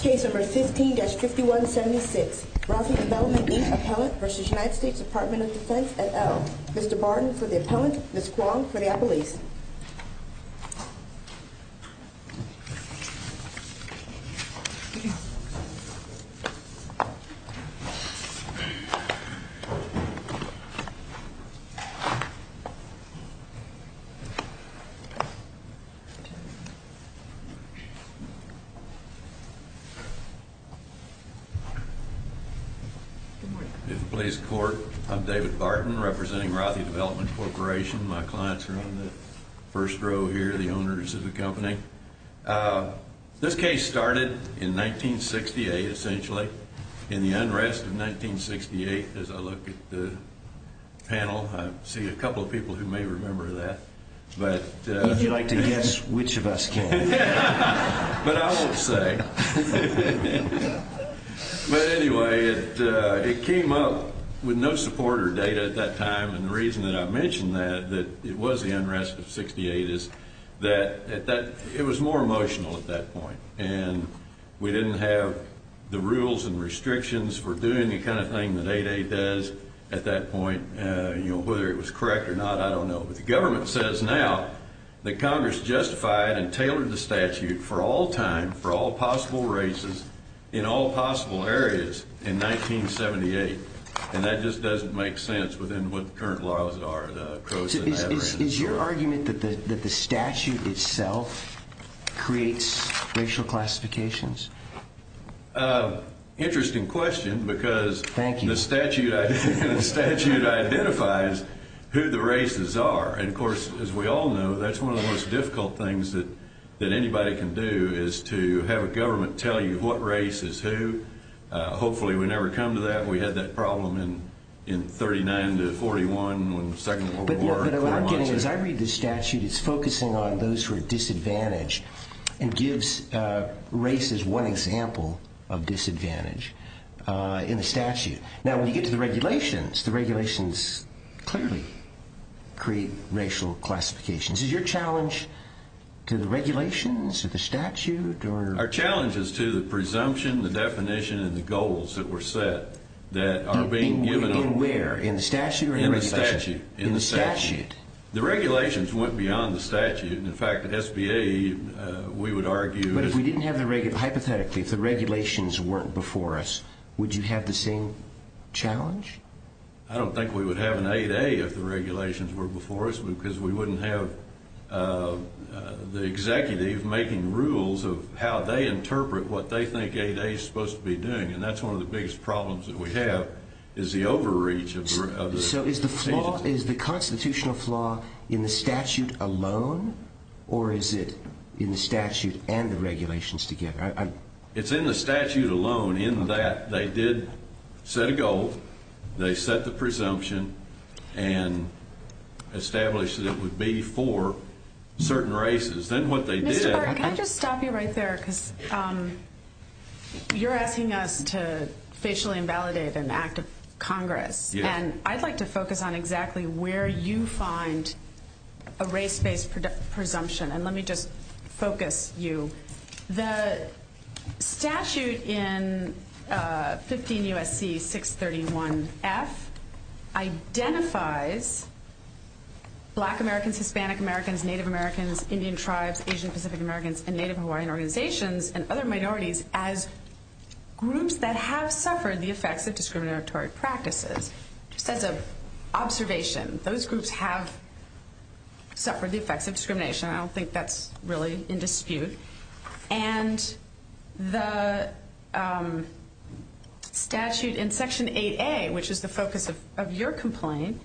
Case No. 15-5176. Broughe Development, Inc. Appellant v. United States Department of Defense, et al. Mr. Barton for the Appellant, Ms. Kuang for the Appellees. I'm David Barton, representing Rothy Development Corporation. My clients are on the first row here, the owners of the company. This case started in 1968, essentially, in the unrest of 1968. As I look at the panel, I see a couple of people who may remember that. Would you like to guess which of us can? But I won't say. But anyway, it came up with no support or data at that time. And the reason that I mention that, that it was the unrest of 1968, is that it was more emotional at that point. And we didn't have the rules and restrictions for doing the kind of thing that 8-8 does at that point. Whether it was correct or not, I don't know. But the government says now that Congress justified and tailored the statute for all time, for all possible races, in all possible areas, in 1978. And that just doesn't make sense within what the current laws are. Is your argument that the statute itself creates racial classifications? Interesting question, because the statute identifies who the races are. And, of course, as we all know, that's one of the most difficult things that anybody can do, is to have a government tell you what race is who. Hopefully we never come to that. We had that problem in 39 to 41 when the Second World War... But what I'm getting at, as I read this statute, it's focusing on those who are disadvantaged and gives race as one example of disadvantage in the statute. Now, when you get to the regulations, the regulations clearly create racial classifications. Is your challenge to the regulations, to the statute, or...? Our challenge is to the presumption, the definition, and the goals that were set that are being given... In where, in the statute or in the regulations? In the statute. In the statute. The regulations went beyond the statute. In fact, at SBA, we would argue... But if we didn't have the regulations, hypothetically, if the regulations weren't before us, would you have the same challenge? I don't think we would have an 8A if the regulations were before us, because we wouldn't have the executive making rules of how they interpret what they think 8A is supposed to be doing. And that's one of the biggest problems that we have, is the overreach of the... So, is the constitutional flaw in the statute alone, or is it in the statute and the regulations together? It's in the statute alone, in that they did set a goal, they set the presumption, and established that it would be for certain races. Then what they did... You're asking us to facially invalidate an act of Congress, and I'd like to focus on exactly where you find a race-based presumption. And let me just focus you. The statute in 15 U.S.C. 631F identifies Black Americans, Hispanic Americans, Native Americans, Indian Tribes, Asian Pacific Americans, and Native Hawaiian organizations and other minorities as groups that have suffered the effects of discriminatory practices. Just as an observation, those groups have suffered the effects of discrimination. I don't think that's really in dispute. And the statute in Section 8A, which is the focus of your complaint,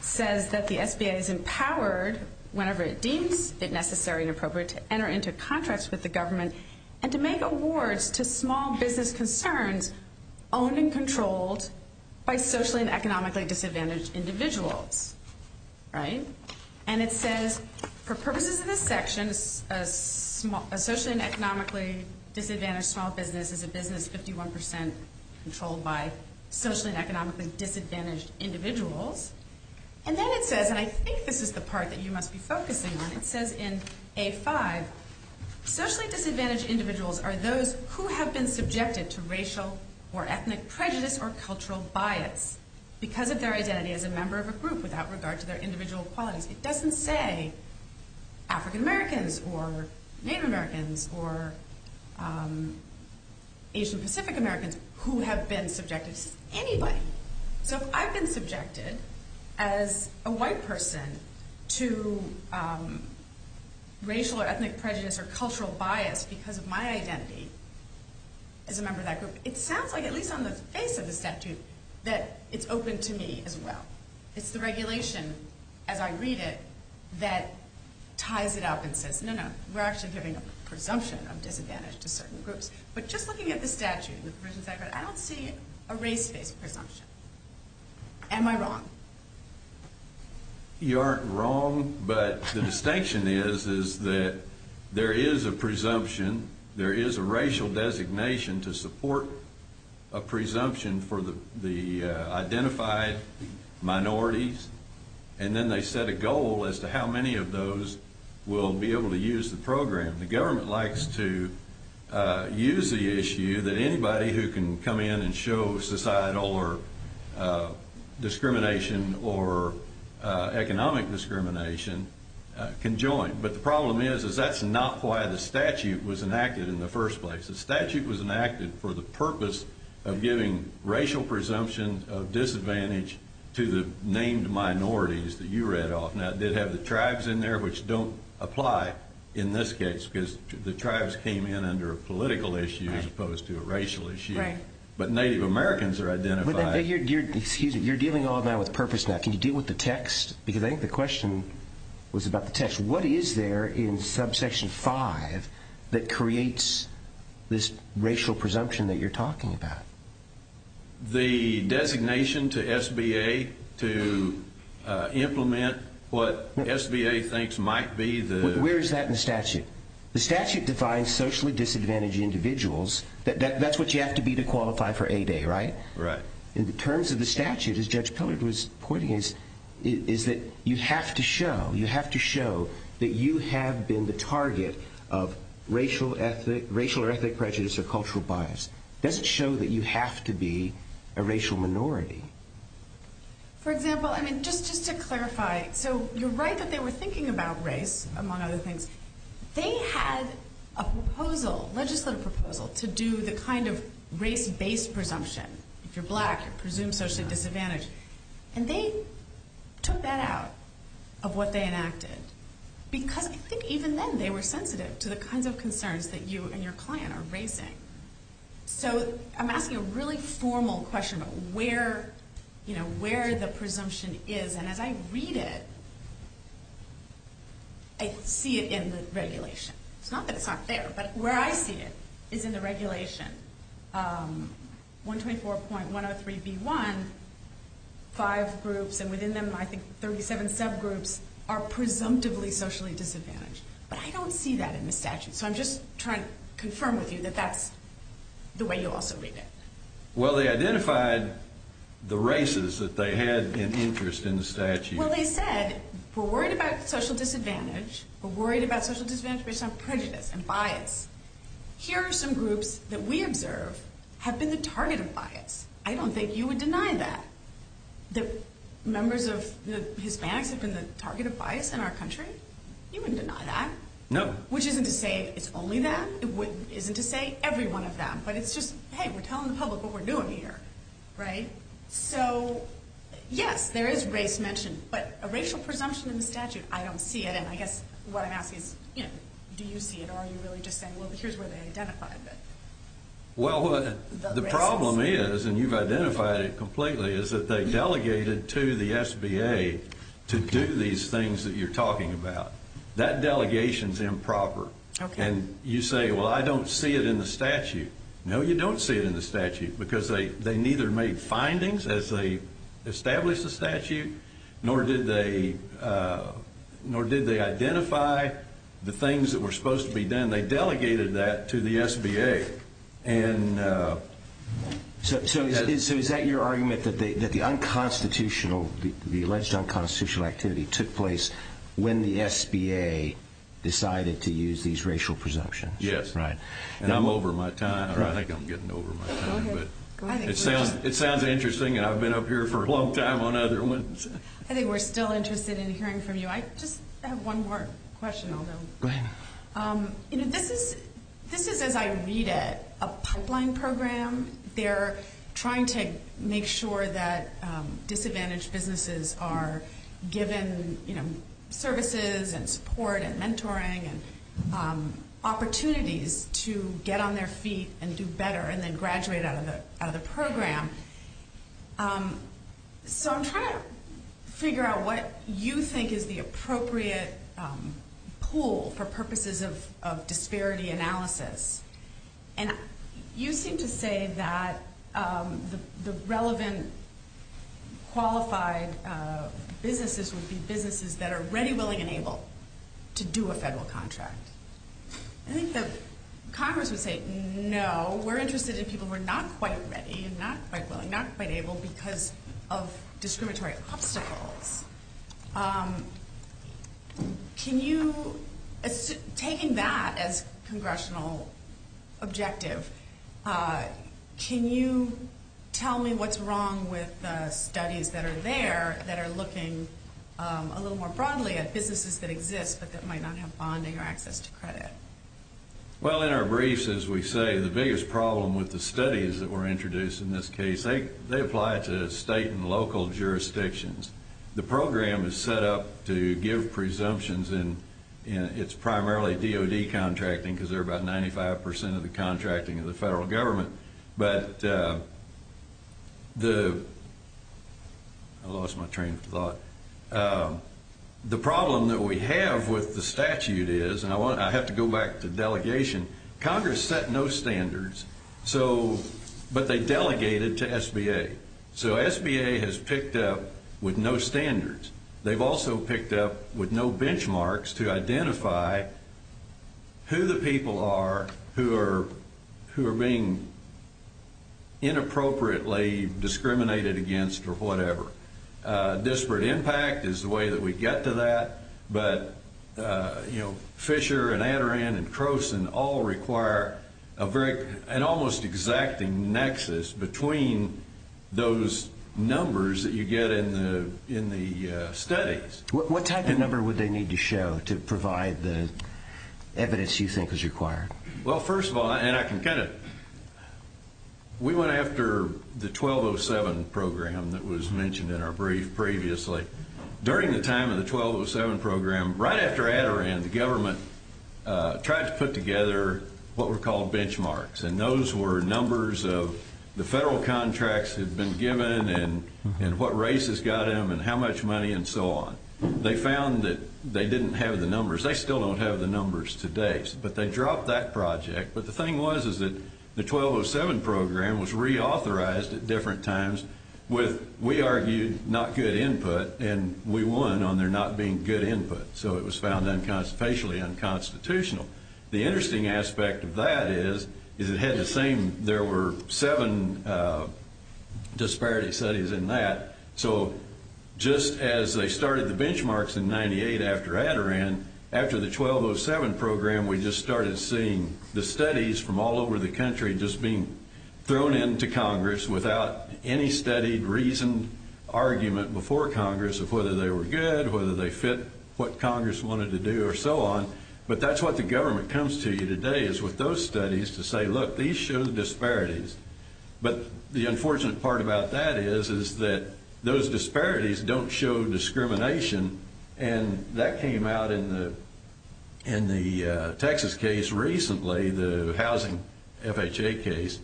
says that the SBA is empowered whenever it deems it necessary and appropriate to enter into contracts with the government, and to make awards to small business concerns owned and controlled by socially and economically disadvantaged individuals. Right? And it says, for purposes of this section, a socially and economically disadvantaged small business is a business 51% controlled by socially and economically disadvantaged individuals. And then it says, and I think this is the part that you must be focusing on, it says in A5, socially disadvantaged individuals are those who have been subjected to racial or ethnic prejudice or cultural bias because of their identity as a member of a group without regard to their individual qualities. It doesn't say African Americans or Native Americans or Asian Pacific Americans who have been subjected to this anyway. So if I've been subjected as a white person to racial or ethnic prejudice or cultural bias because of my identity as a member of that group, it sounds like, at least on the face of the statute, that it's open to me as well. It's the regulation, as I read it, that ties it up and says, no, no, we're actually giving a presumption of disadvantage to certain groups. But just looking at the statute, I don't see a race-based presumption. Am I wrong? You aren't wrong, but the distinction is that there is a presumption. There is a racial designation to support a presumption for the identified minorities. And then they set a goal as to how many of those will be able to use the program. The government likes to use the issue that anybody who can come in and show societal or discrimination or economic discrimination can join. But the problem is, is that's not why the statute was enacted in the first place. The statute was enacted for the purpose of giving racial presumption of disadvantage to the named minorities that you read off. Now, it did have the tribes in there, which don't apply in this case, because the tribes came in under a political issue as opposed to a racial issue. Right. But Native Americans are identified. Excuse me, you're dealing all of that with purpose now. Can you deal with the text? Because I think the question was about the text. What is there in subsection 5 that creates this racial presumption that you're talking about? The designation to SBA to implement what SBA thinks might be the... Where is that in the statute? The statute defines socially disadvantaged individuals. That's what you have to be to qualify for 8A, right? Right. In terms of the statute, as Judge Pillard was pointing, is that you have to show, you have to show that you have been the target of racial or ethnic prejudice or cultural bias. Does it show that you have to be a racial minority? For example, I mean, just to clarify, so you're right that they were thinking about race, among other things. They had a proposal, legislative proposal, to do the kind of race-based presumption. If you're black, you're presumed socially disadvantaged. And they took that out of what they enacted because I think even then they were sensitive to the kinds of concerns that you and your client are raising. So I'm asking a really formal question about where the presumption is. And as I read it, I see it in the regulation. It's not that it's not there, but where I see it is in the regulation. It says within 124.103b1, five groups, and within them, I think, 37 subgroups are presumptively socially disadvantaged. But I don't see that in the statute. So I'm just trying to confirm with you that that's the way you also read it. Well, they identified the races that they had an interest in the statute. Well, they said we're worried about social disadvantage. We're worried about social disadvantage based on prejudice and bias. Here are some groups that we observe have been the target of bias. I don't think you would deny that, that members of Hispanics have been the target of bias in our country. You wouldn't deny that. No. Which isn't to say it's only that. It isn't to say every one of them. But it's just, hey, we're telling the public what we're doing here, right? So, yes, there is race mentioned. But a racial presumption in the statute, I don't see it. Again, I guess what I'm asking is, do you see it or are you really just saying, well, here's where they identified it? Well, the problem is, and you've identified it completely, is that they delegated to the SBA to do these things that you're talking about. That delegation is improper. And you say, well, I don't see it in the statute. No, you don't see it in the statute because they neither made findings as they established the statute nor did they identify the things that were supposed to be done. They delegated that to the SBA. So is that your argument, that the unconstitutional, the alleged unconstitutional activity took place when the SBA decided to use these racial presumptions? Yes. Right. And I'm over my time, or I think I'm getting over my time. It sounds interesting, and I've been up here for a long time on other ones. I think we're still interested in hearing from you. I just have one more question, although. Go ahead. This is, as I read it, a pipeline program. They're trying to make sure that disadvantaged businesses are given services and support and mentoring and opportunities to get on their feet and do better and then graduate out of the program. So I'm trying to figure out what you think is the appropriate pool for purposes of disparity analysis. And you seem to say that the relevant qualified businesses would be businesses that are ready, willing, and able to do a federal contract. I think that Congress would say, no, we're interested in people who are not quite ready and not quite willing, not quite able because of discriminatory obstacles. Taking that as congressional objective, can you tell me what's wrong with the studies that are there that are looking a little more broadly at businesses that exist but that might not have bonding or access to credit? Well, in our briefs, as we say, the biggest problem with the studies that were introduced in this case, they apply to state and local jurisdictions. The program is set up to give presumptions, and it's primarily DOD contracting because they're about 95 percent of the contracting of the federal government. But the – I lost my train of thought. The problem that we have with the statute is – and I have to go back to delegation. Congress set no standards, but they delegated to SBA. So SBA has picked up with no standards. They've also picked up with no benchmarks to identify who the people are who are being inappropriately discriminated against or whatever. Disparate impact is the way that we get to that. But Fisher and Adaran and Croson all require a very – an almost exacting nexus between those numbers that you get in the studies. What type of number would they need to show to provide the evidence you think is required? Well, first of all – and I can kind of – we went after the 1207 program that was mentioned in our brief previously. During the time of the 1207 program, right after Adaran, the government tried to put together what were called benchmarks. And those were numbers of the federal contracts that had been given and what races got them and how much money and so on. They found that they didn't have the numbers. They still don't have the numbers today, but they dropped that project. But the thing was is that the 1207 program was reauthorized at different times with, we argued, not good input. And we won on there not being good input. So it was found facially unconstitutional. The interesting aspect of that is it had the same – there were seven disparity studies in that. So just as they started the benchmarks in 98 after Adaran, after the 1207 program, we just started seeing the studies from all over the country just being thrown into Congress without any studied, reasoned argument before Congress of whether they were good, whether they fit what Congress wanted to do or so on. But that's what the government comes to you today is with those studies to say, look, these show the disparities. But the unfortunate part about that is is that those disparities don't show discrimination. And that came out in the Texas case recently, the housing FHA case,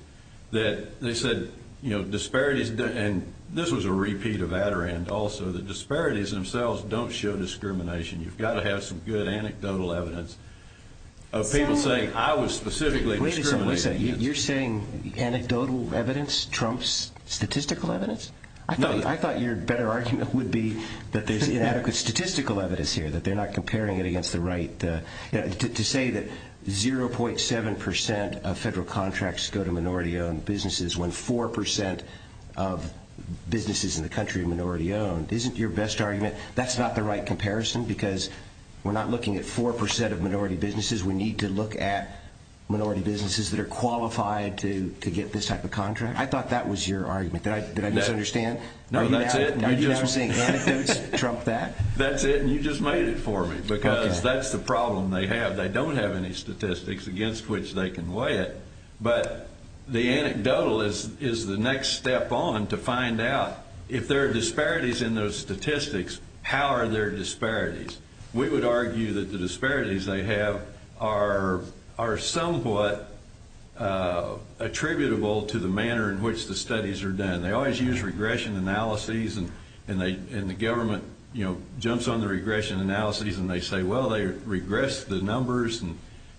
that they said disparities – and this was a repeat of Adaran also – the disparities themselves don't show discrimination. You've got to have some good anecdotal evidence of people saying, I was specifically discriminated against. You're saying anecdotal evidence trumps statistical evidence? I thought your better argument would be that there's inadequate statistical evidence here, that they're not comparing it against the right – to say that 0.7 percent of federal contracts go to minority-owned businesses when 4 percent of businesses in the country are minority-owned isn't your best argument. That's not the right comparison because we're not looking at 4 percent of minority businesses. We need to look at minority businesses that are qualified to get this type of contract. I thought that was your argument. Did I misunderstand? No, that's it. Are you now saying anecdotes trump that? That's it, and you just made it for me because that's the problem they have. They don't have any statistics against which they can weigh it. But the anecdotal is the next step on to find out if there are disparities in those statistics, how are there disparities? We would argue that the disparities they have are somewhat attributable to the manner in which the studies are done. They always use regression analyses, and the government jumps on the regression analyses, and they say, well, they regressed the numbers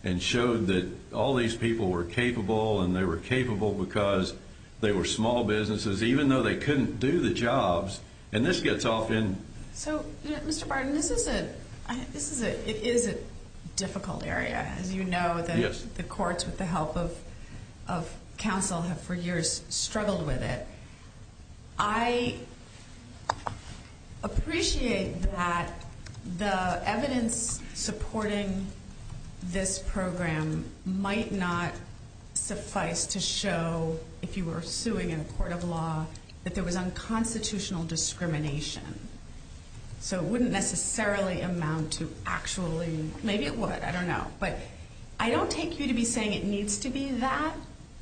and showed that all these people were capable, and they were capable because they were small businesses, even though they couldn't do the jobs. And this gets off in – So, Mr. Barton, this is a difficult area. As you know, the courts, with the help of counsel, have for years struggled with it. I appreciate that the evidence supporting this program might not suffice to show, if you were suing in a court of law, that there was unconstitutional discrimination. So it wouldn't necessarily amount to actually – maybe it would, I don't know. But I don't take you to be saying it needs to be that,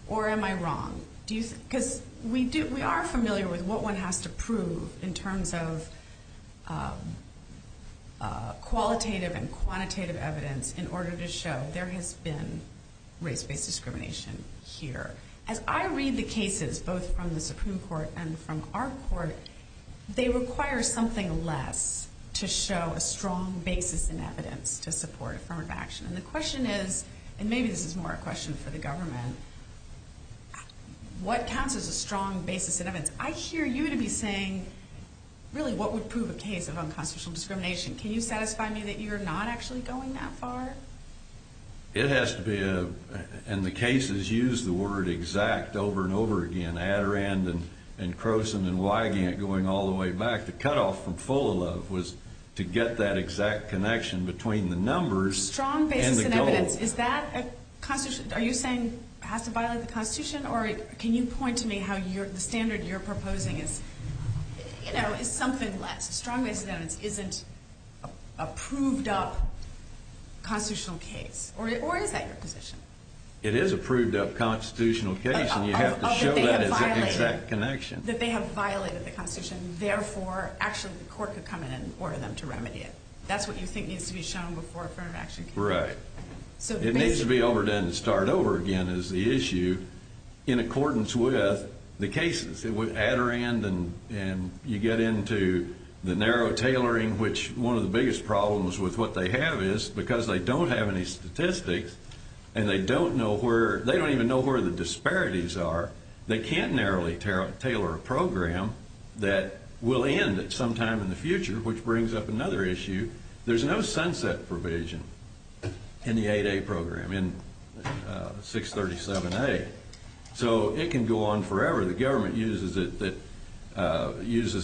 or am I wrong? Because we are familiar with what one has to prove in terms of qualitative and quantitative evidence in order to show there has been race-based discrimination here. As I read the cases, both from the Supreme Court and from our court, they require something less to show a strong basis in evidence to support affirmative action. And the question is – and maybe this is more a question for the government – what counts as a strong basis in evidence? I hear you to be saying, really, what would prove a case of unconstitutional discrimination. Can you satisfy me that you're not actually going that far? It has to be a – and the cases use the word exact over and over again. Adirondack and Croson and Wygant going all the way back. The cutoff from full of love was to get that exact connection between the numbers and the goal. Strong basis in evidence, is that – are you saying it has to violate the Constitution? Or can you point to me how the standard you're proposing is something less? Strong basis in evidence isn't a proved-up constitutional case. Or is that your position? It is a proved-up constitutional case, and you have to show that it's an exact connection. That they have violated the Constitution, therefore actually the court could come in and order them to remedy it. That's what you think needs to be shown before affirmative action can be done. Right. It needs to be over and done and start over again is the issue, in accordance with the cases. With Adirondack and you get into the narrow tailoring, which one of the biggest problems with what they have is, because they don't have any statistics and they don't know where – they don't even know where the disparities are, they can't narrowly tailor a program that will end at some time in the future, which brings up another issue. There's no sunset provision in the 8A program, in 637A. So it can go on forever. The government uses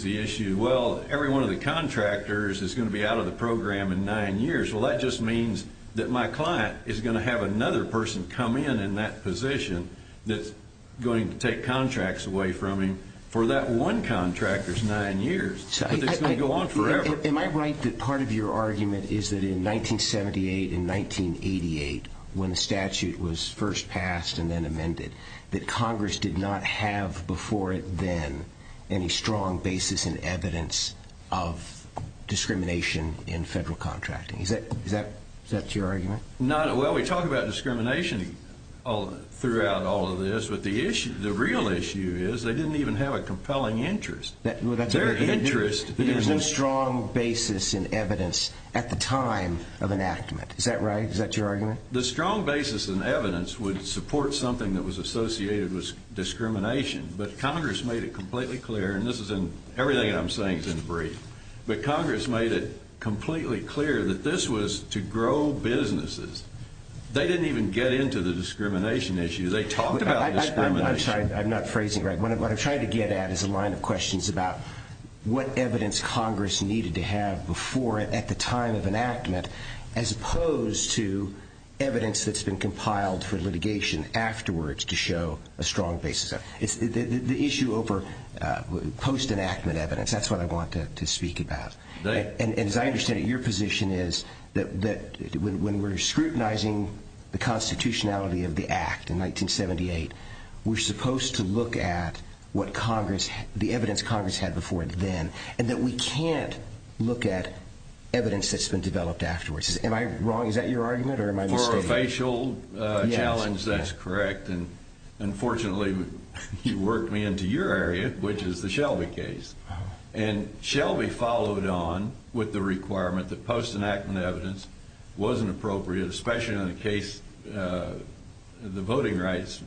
the issue, well, every one of the contractors is going to be out of the program in nine years. Well, that just means that my client is going to have another person come in in that position that's going to take contracts away from him for that one contractor's nine years. But it's going to go on forever. Am I right that part of your argument is that in 1978 and 1988, when the statute was first passed and then amended, that Congress did not have before then any strong basis in evidence of discrimination in federal contracting? Is that your argument? Well, we talk about discrimination throughout all of this, but the real issue is they didn't even have a compelling interest. Their interest – There's no strong basis in evidence at the time of enactment. Is that right? The strong basis in evidence would support something that was associated with discrimination, but Congress made it completely clear, and everything I'm saying is in brief, but Congress made it completely clear that this was to grow businesses. They didn't even get into the discrimination issue. They talked about discrimination. I'm sorry. I'm not phrasing it right. What I'm trying to get at is a line of questions about what evidence Congress needed to have before at the time of enactment as opposed to evidence that's been compiled for litigation afterwards to show a strong basis. The issue over post-enactment evidence, that's what I want to speak about. And as I understand it, your position is that when we're scrutinizing the constitutionality of the Act in 1978, we're supposed to look at the evidence Congress had before then and that we can't look at evidence that's been developed afterwards. Am I wrong? Is that your argument, or am I mistaken? For a facial challenge, that's correct. And unfortunately, you worked me into your area, which is the Shelby case. And Shelby followed on with the requirement that post-enactment evidence wasn't appropriate, especially in the case the voting rights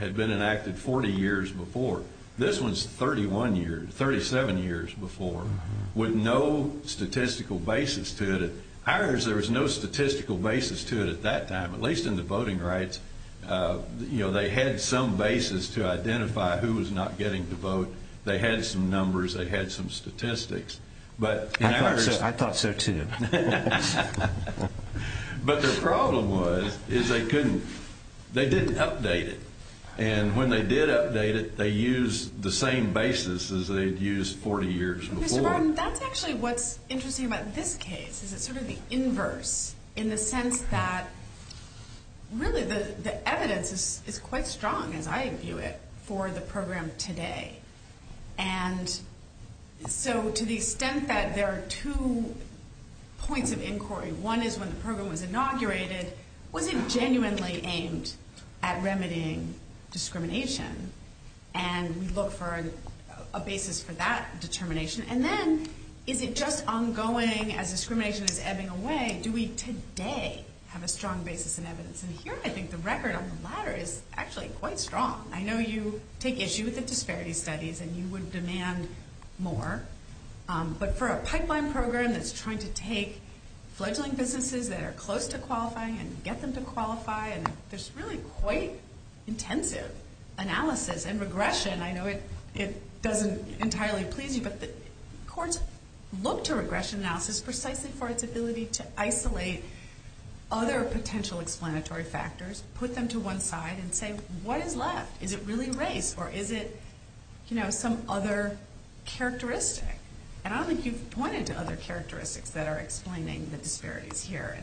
had been enacted 40 years before. This one's 31 years, 37 years before, with no statistical basis to it. Ours, there was no statistical basis to it at that time, at least in the voting rights. They had some basis to identify who was not getting to vote. They had some numbers. They had some statistics. I thought so, too. But the problem was they didn't update it. And when they did update it, they used the same basis as they'd used 40 years before. Mr. Burton, that's actually what's interesting about this case, is it's sort of the inverse in the sense that really the evidence is quite strong, as I view it, for the program today. And so to the extent that there are two points of inquiry, one is when the program was inaugurated, was it genuinely aimed at remedying discrimination? And we look for a basis for that determination. And then is it just ongoing as discrimination is ebbing away? Do we today have a strong basis in evidence? And here I think the record on the latter is actually quite strong. I know you take issue with the disparity studies and you would demand more. But for a pipeline program that's trying to take fledgling businesses that are close to qualifying and get them to qualify, there's really quite intensive analysis and regression. I know it doesn't entirely please you, but courts look to regression analysis precisely for its ability to isolate other potential explanatory factors, put them to one side, and say, what is left? Is it really race or is it some other characteristic? And I don't think you've pointed to other characteristics that are explaining the disparities here.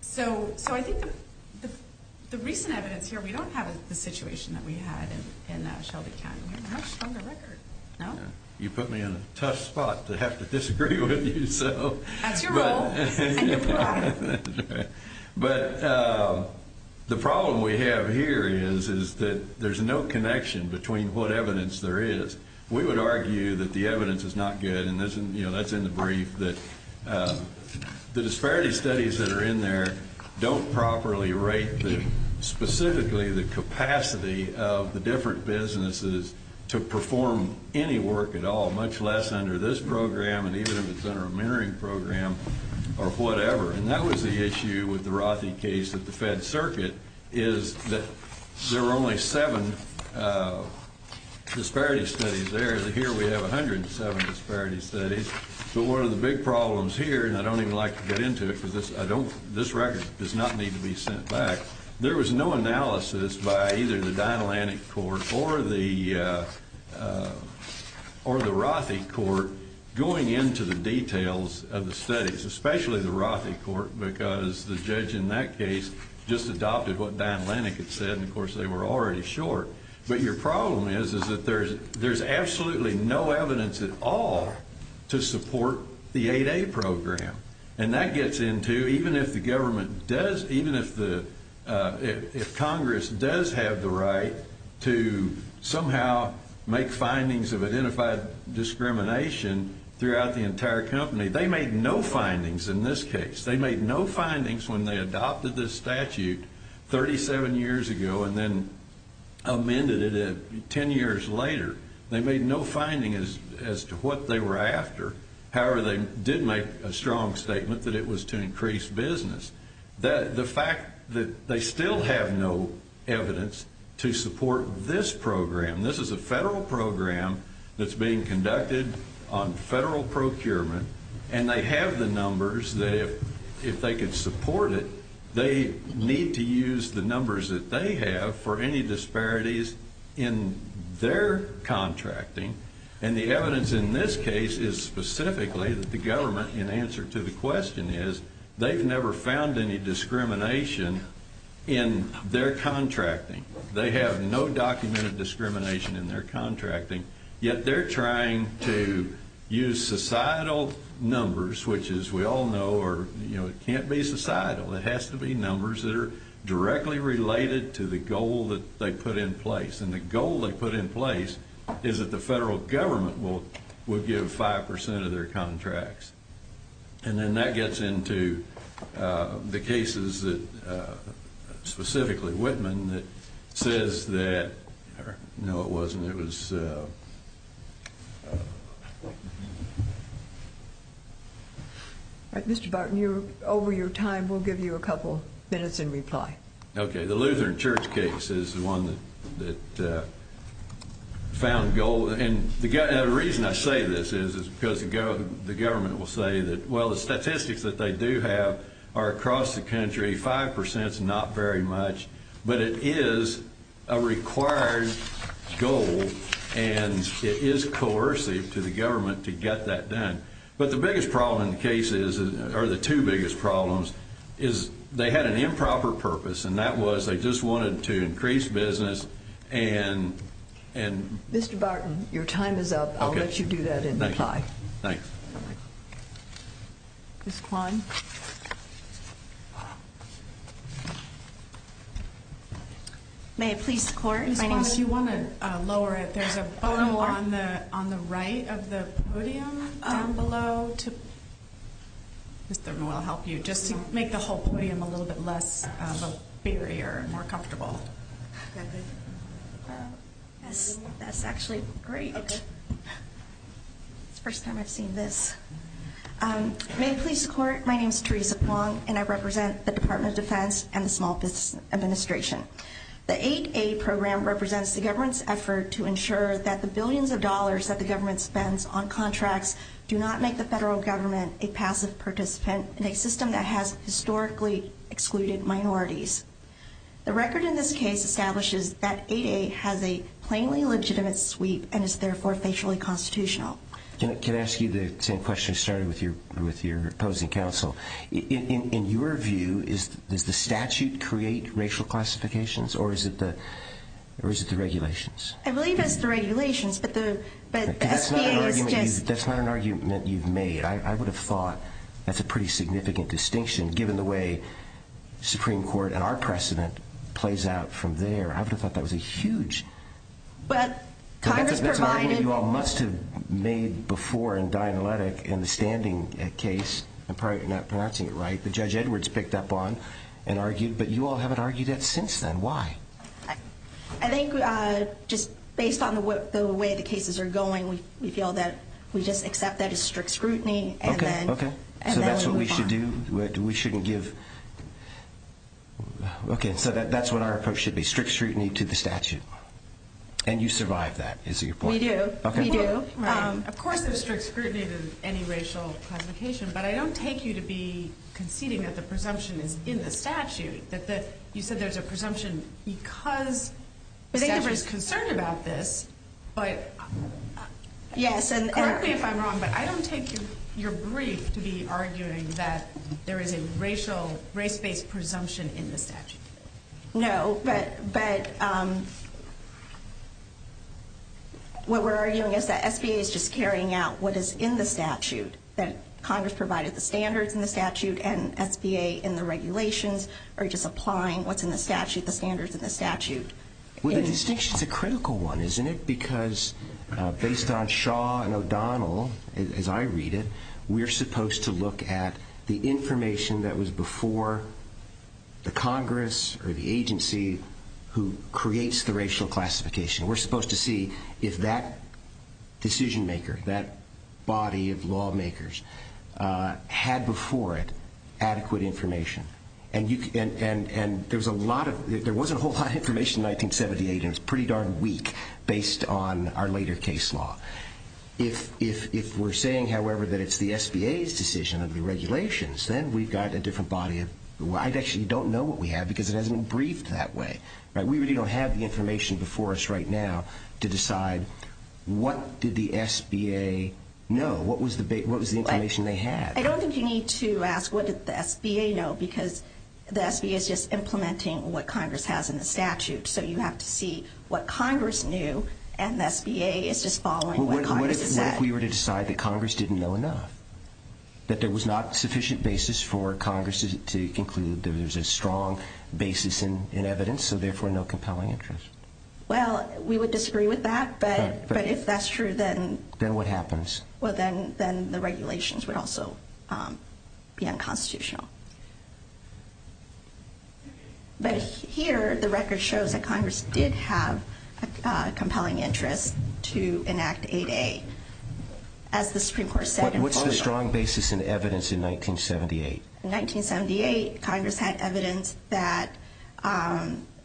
So I think the recent evidence here, we don't have the situation that we had in Shelby County. We have a much stronger record, no? You put me in a tough spot to have to disagree with you. That's your role. But the problem we have here is that there's no connection between what evidence there is. We would argue that the evidence is not good, and that's in the brief, that the disparity studies that are in there don't properly rate specifically the capacity of the different businesses to perform any work at all, much less under this program and even if it's under a mentoring program or whatever. And that was the issue with the Rothy case at the Fed Circuit, is that there were only seven disparity studies there. Here we have 107 disparity studies. But one of the big problems here, and I don't even like to get into it because this record does not need to be sent back, there was no analysis by either the Dynalantic Court or the Rothy Court going into the details of the studies, especially the Rothy Court, because the judge in that case just adopted what Dynalantic had said, and of course they were already short. But your problem is that there's absolutely no evidence at all to support the 8A program. And that gets into, even if the government does, even if Congress does have the right to somehow make findings of identified discrimination throughout the entire company, they made no findings in this case. They made no findings when they adopted this statute 37 years ago and then amended it 10 years later. They made no finding as to what they were after. However, they did make a strong statement that it was to increase business. The fact that they still have no evidence to support this program, this is a federal program that's being conducted on federal procurement, and they have the numbers that if they could support it, they need to use the numbers that they have for any disparities in their contracting. And the evidence in this case is specifically that the government, and the answer to the question is they've never found any discrimination in their contracting. They have no documented discrimination in their contracting, yet they're trying to use societal numbers, which as we all know can't be societal. It has to be numbers that are directly related to the goal that they put in place. And the goal they put in place is that the federal government would give 5% of their contracts. And then that gets into the cases, specifically Whitman, that says that, no, it wasn't. Mr. Barton, over your time, we'll give you a couple minutes in reply. Okay. The Lutheran Church case is the one that found goal. And the reason I say this is because the government will say that, well, the statistics that they do have are across the country, 5% is not very much, but it is a required goal, and it is coercive to the government to get that done. But the biggest problem in the case is, or the two biggest problems, is they had an improper purpose, and that was they just wanted to increase business and... Mr. Barton, your time is up. I'll let you do that in reply. Thanks. Ms. Kwan? May it please the court? Ms. Kwan, if you want to lower it, there's a button on the right of the podium down below to... Mr. Moore, I'll help you, just to make the whole podium a little bit less of a barrier, more comfortable. Yes, that's actually great. It's the first time I've seen this. May it please the court? My name is Teresa Kwan, and I represent the Department of Defense and the Small Business Administration. The 8A program represents the government's effort to ensure that the billions of dollars that the government spends on contracts do not make the federal government a passive participant in a system that has historically excluded minorities. The record in this case establishes that 8A has a plainly legitimate sweep and is therefore facially constitutional. Can I ask you the same question you started with your opposing counsel? In your view, does the statute create racial classifications, or is it the regulations? I believe it's the regulations, but the SBA is just... That's not an argument you've made. I would have thought that's a pretty significant distinction, given the way Supreme Court and our precedent plays out from there. I would have thought that was a huge... But Congress provided... The judge Edwards picked up on and argued, but you all haven't argued that since then. Why? I think just based on the way the cases are going, we feel that we just accept that as strict scrutiny. Okay, okay. So that's what we should do? We shouldn't give... Okay, so that's what our approach should be. Strict scrutiny to the statute. And you survive that, is your point? We do. We do. Right. Of course there's strict scrutiny to any racial classification, but I don't take you to be conceding that the presumption is in the statute. You said there's a presumption because the statute is concerned about this, but... Yes, and... Correct me if I'm wrong, but I don't take your brief to be arguing that there is a racial, race-based presumption in the statute. No, but... What we're arguing is that SBA is just carrying out what is in the statute. That Congress provided the standards in the statute and SBA in the regulations are just applying what's in the statute, the standards in the statute. Well, the distinction's a critical one, isn't it? Because based on Shaw and O'Donnell, as I read it, we're supposed to look at the information that was before the Congress or the agency who creates the racial classification. We're supposed to see if that decision-maker, that body of lawmakers, had before it adequate information. And there was a whole lot of information in 1978, and it was pretty darn weak based on our later case law. If we're saying, however, that it's the SBA's decision under the regulations, then we've got a different body of... I actually don't know what we have because it isn't briefed that way. We really don't have the information before us right now to decide what did the SBA know? What was the information they had? I don't think you need to ask what did the SBA know because the SBA is just implementing what Congress has in the statute. So you have to see what Congress knew, and the SBA is just following what Congress has said. What if we were to decide that Congress didn't know enough? That there was not sufficient basis for Congress to conclude there's a strong basis in evidence, so therefore no compelling interest? Well, we would disagree with that, but if that's true, then... Then what happens? Well, then the regulations would also be unconstitutional. But here, the record shows that Congress did have a compelling interest to enact 8A. As the Supreme Court said... What's the strong basis in evidence in 1978? In 1978, Congress had evidence that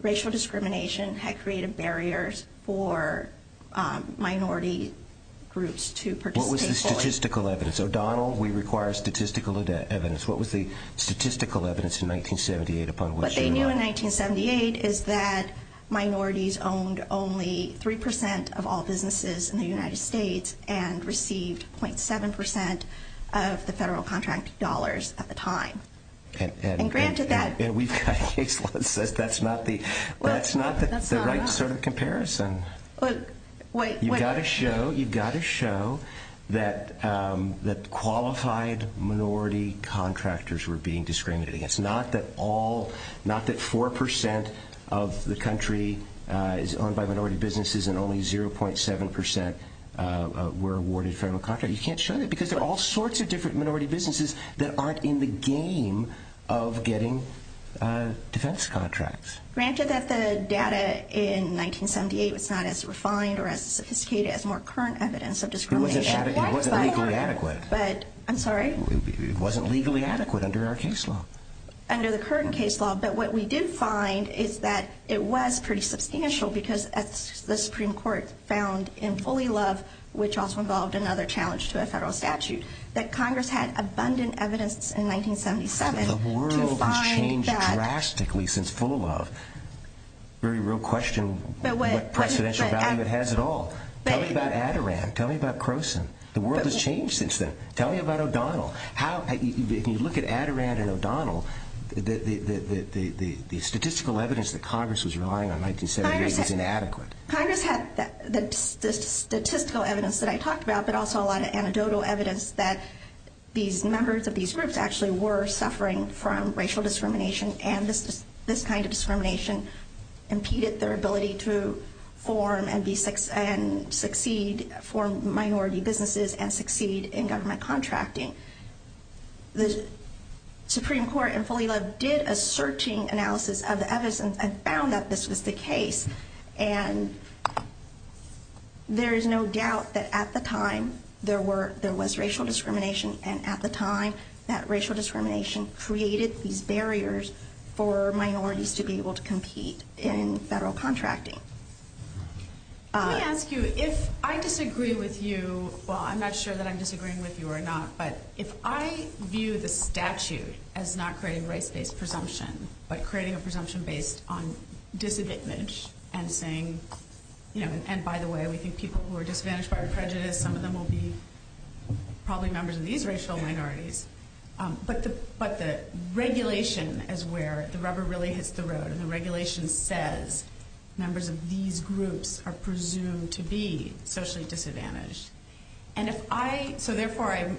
racial discrimination had created barriers for minority groups to participate. What was the statistical evidence? O'Donnell, we require statistical evidence. What was the statistical evidence in 1978 upon which you relied? What they knew in 1978 is that minorities owned only 3% of all businesses in the United States and received 0.7% of the federal contract dollars at the time. And granted that... And we've got a case law that says that's not the right sort of comparison. You've got to show that qualified minority contractors were being discriminated against. Not that 4% of the country is owned by minority businesses and only 0.7% were awarded federal contracts. You can't show that because there are all sorts of different minority businesses that aren't in the game of getting defense contracts. Granted that the data in 1978 was not as refined or as sophisticated as more current evidence of discrimination. It wasn't legally adequate. I'm sorry? It wasn't legally adequate under our case law. Under the current case law, but what we did find is that it was pretty substantial because the Supreme Court found in Fully Love, which also involved another challenge to a federal statute, that Congress had abundant evidence in 1977 to find that... Very real question what presidential value it has at all. Tell me about Adirondack. Tell me about Croson. The world has changed since then. Tell me about O'Donnell. If you look at Adirondack and O'Donnell, the statistical evidence that Congress was relying on in 1978 was inadequate. Congress had the statistical evidence that I talked about, but also a lot of anecdotal evidence that these members of these groups actually were suffering from racial discrimination and this kind of discrimination impeded their ability to form and succeed, form minority businesses and succeed in government contracting. The Supreme Court in Fully Love did a searching analysis of the evidence and found that this was the case. And there is no doubt that at the time there was racial discrimination and at the time that racial discrimination created these barriers for minorities to be able to compete in federal contracting. Can I ask you, if I disagree with you, well, I'm not sure that I'm disagreeing with you or not, but if I view the statute as not creating race-based presumption, but creating a presumption based on disadvantage and saying, you know, and by the way, we think people who are disadvantaged by prejudice, some of them will be probably members of these racial minorities, but the regulation is where the rubber really hits the road and the regulation says members of these groups are presumed to be socially disadvantaged. And if I, so therefore I'm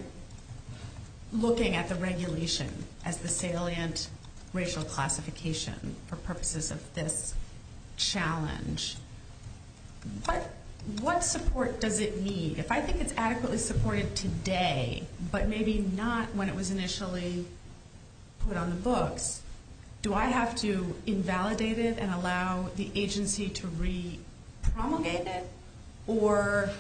looking at the regulation as the salient racial classification for purposes of this challenge. But what support does it need? If I think it's adequately supported today, but maybe not when it was initially put on the books, do I have to invalidate it and allow the agency to re-promulgate it or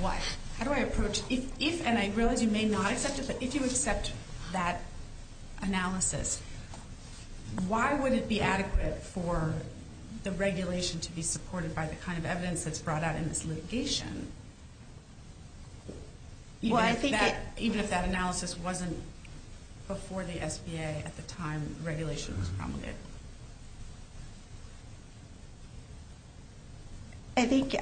what? How do I approach, if, and I realize you may not accept it, but if you accept that analysis, why would it be adequate for the regulation to be supported by the kind of evidence that's brought out in this litigation? Even if that analysis wasn't before the SBA at the time regulation was promulgated? I think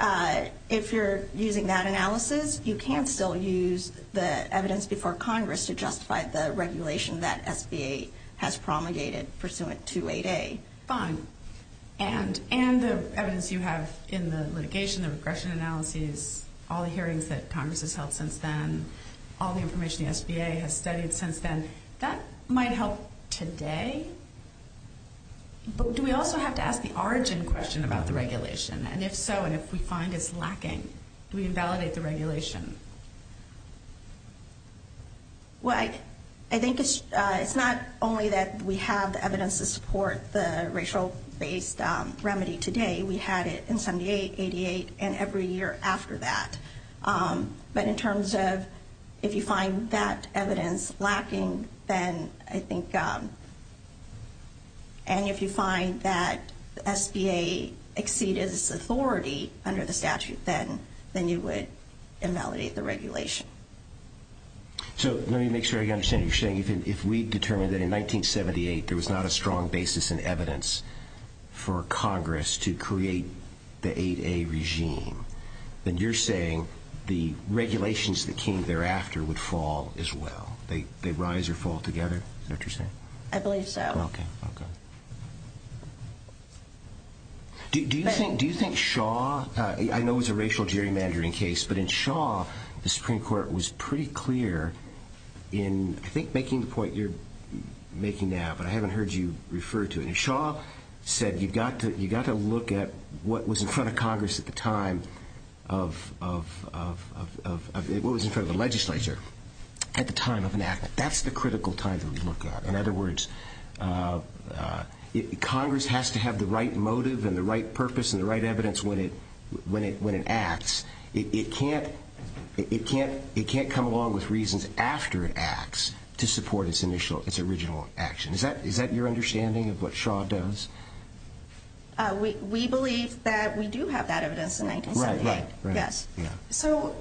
if you're using that analysis, you can still use the evidence before Congress to justify the regulation that SBA has promulgated pursuant to 8A. Fine. And the evidence you have in the litigation, the regression analyses, all the hearings that Congress has held since then, all the information the SBA has studied since then, that might help today. But do we also have to ask the origin question about the regulation? And if so, and if we find it's lacking, do we invalidate the regulation? Well, I think it's not only that we have the evidence to support the racial-based remedy today. We had it in 78, 88, and every year after that. But in terms of if you find that evidence lacking, then I think, and if you find that SBA exceeds its authority under the statute, then you would invalidate the regulation. So let me make sure I understand what you're saying. If we determined that in 1978 there was not a strong basis in evidence for Congress to create the 8A regime, then you're saying the regulations that came thereafter would fall as well? They rise or fall together, is that what you're saying? I believe so. Okay, okay. Do you think Shaw, I know it was a racial gerrymandering case, but in Shaw the Supreme Court was pretty clear in, I think, making the point you're making now, but I haven't heard you refer to it. Shaw said you've got to look at what was in front of Congress at the time of, what was in front of the legislature at the time of enactment. That's the critical time to look at. In other words, Congress has to have the right motive and the right purpose and the right evidence when it acts. It can't come along with reasons after it acts to support its original action. Is that your understanding of what Shaw does? We believe that we do have that evidence in 1978. Right, right. Yes. So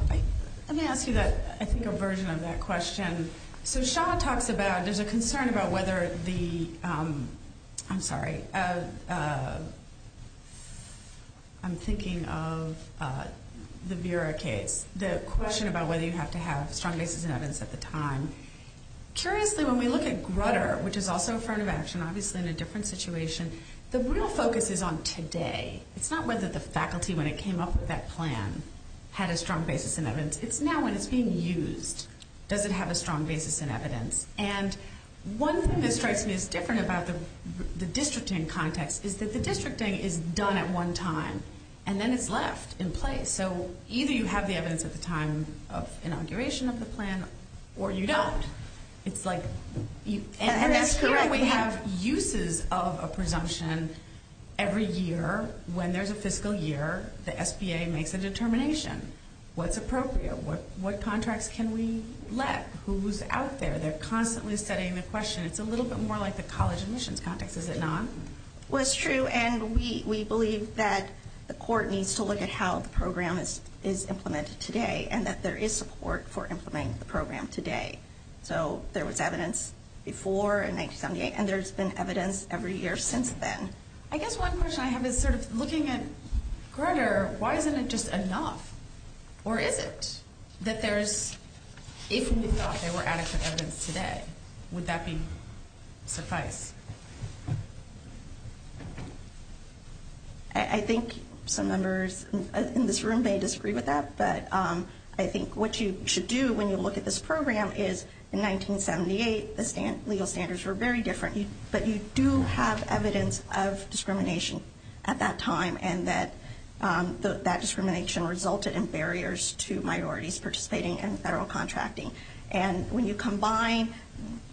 let me ask you, I think, a version of that question. So Shaw talks about, there's a concern about whether the, I'm sorry, I'm thinking of the Vera case, the question about whether you have to have strong basis in evidence at the time. Curiously, when we look at Grutter, which is also a front of action, obviously in a different situation, the real focus is on today. It's not whether the faculty, when it came up with that plan, had a strong basis in evidence. It's now when it's being used, does it have a strong basis in evidence? And one thing that strikes me as different about the districting context is that the districting is done at one time, and then it's left in place. So either you have the evidence at the time of inauguration of the plan, or you don't. It's like, and that's correct, we have uses of a presumption every year. When there's a fiscal year, the SBA makes a determination. What's appropriate? What contracts can we let? Who's out there? They're constantly studying the question. It's a little bit more like the college admissions context, is it not? Well, it's true, and we believe that the court needs to look at how the program is implemented today and that there is support for implementing the program today. So there was evidence before in 1978, and there's been evidence every year since then. I guess one question I have is sort of looking at Grutter, why isn't it just enough? Or is it that there's, if we thought there were adequate evidence today, would that suffice? I think some members in this room may disagree with that, but I think what you should do when you look at this program is in 1978, the legal standards were very different. But you do have evidence of discrimination at that time, and that discrimination resulted in barriers to minorities participating in federal contracting. And when you combine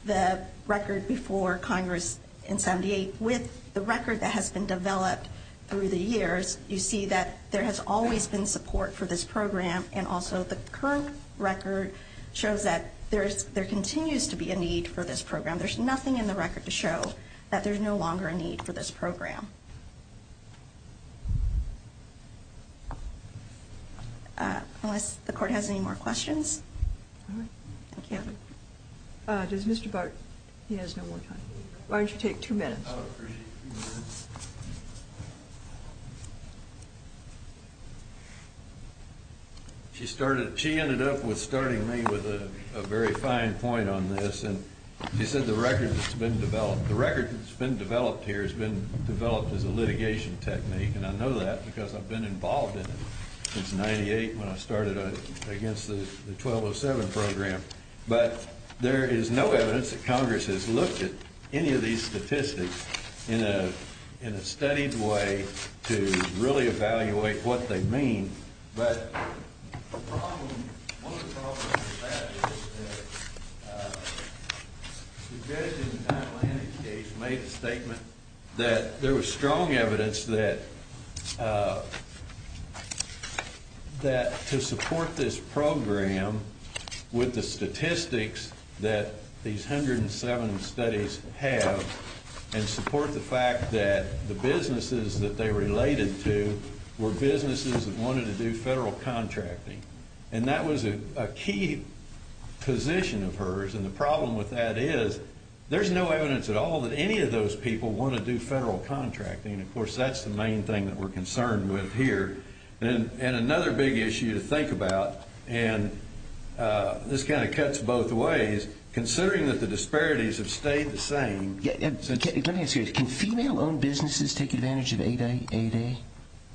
the record before Congress in 1978 with the record that has been developed through the years, you see that there has always been support for this program, and also the current record shows that there continues to be a need for this program. There's nothing in the record to show that there's no longer a need for this program. Unless the court has any more questions. Does Mr. Bart, he has no more time. Why don't you take two minutes? I would appreciate two minutes. She started, she ended up with starting me with a very fine point on this. And she said the record that's been developed, the record that's been developed here has been developed as a litigation technique, and I know that because I've been involved in it since 98 when I started against the 1207 program. But there is no evidence that Congress has looked at any of these statistics in a studied way to really evaluate what they mean. But the problem, one of the problems with that is that the judge in the Atlanta case made a statement that there was strong evidence that to support this program with the statistics that these 107 studies have and support the fact that the businesses that they related to were businesses that wanted to do federal contracting. And that was a key position of hers. And the problem with that is there's no evidence at all that any of those people want to do federal contracting. Of course, that's the main thing that we're concerned with here. And another big issue to think about, and this kind of cuts both ways, considering that the disparities have stayed the same. Let me ask you, can female-owned businesses take advantage of 8A?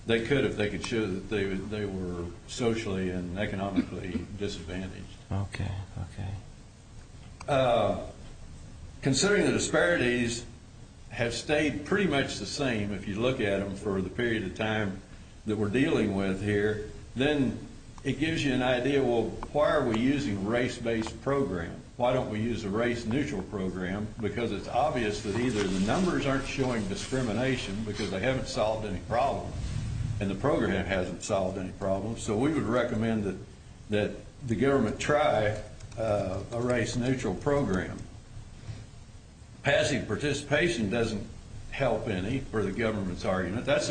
They could if they could show that they were socially and economically disadvantaged. Okay, okay. Considering the disparities have stayed pretty much the same if you look at them for the period of time that we're dealing with here, then it gives you an idea, well, why are we using a race-based program? Why don't we use a race-neutral program? Because it's obvious that either the numbers aren't showing discrimination because they haven't solved any problems and the program hasn't solved any problems. So we would recommend that the government try a race-neutral program. But that's their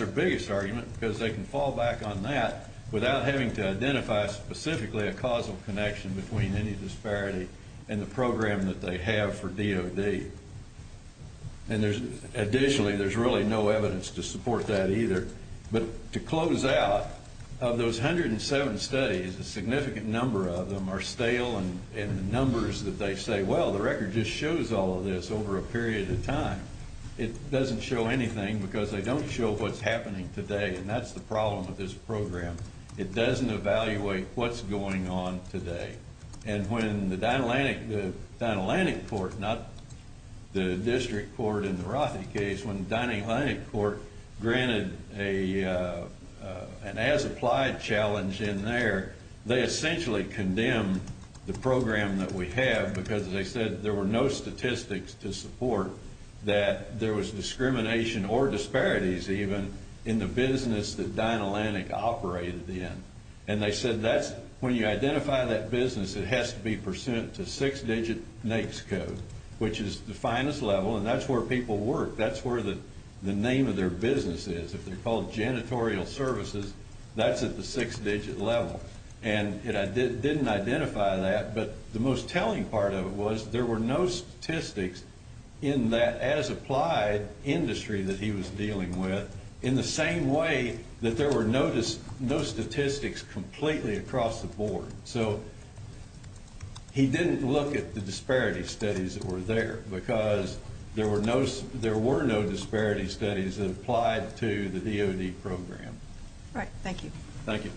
biggest argument because they can fall back on that without having to identify specifically a causal connection between any disparity and the program that they have for DOD. And additionally, there's really no evidence to support that either. But to close out, of those 107 studies, a significant number of them are stale in the numbers that they say, well, the record just shows all of this over a period of time. It doesn't show anything because they don't show what's happening today, and that's the problem with this program. It doesn't evaluate what's going on today. And when the Dinah-Lanik Court, not the district court in the Rothy case, when the Dinah-Lanik Court granted an as-applied challenge in there, they essentially condemned the program that we have because, as I said, there were no statistics to support that there was discrimination or disparities even in the business that Dinah-Lanik operated in. And they said when you identify that business, it has to be pursuant to six-digit NAICS code, which is the finest level, and that's where people work. That's where the name of their business is. If they're called janitorial services, that's at the six-digit level. And it didn't identify that, but the most telling part of it was there were no statistics in that as-applied industry that he was dealing with, in the same way that there were no statistics completely across the board. So he didn't look at the disparity studies that were there because there were no disparity studies that applied to the DOD program. All right. Thank you. Thank you.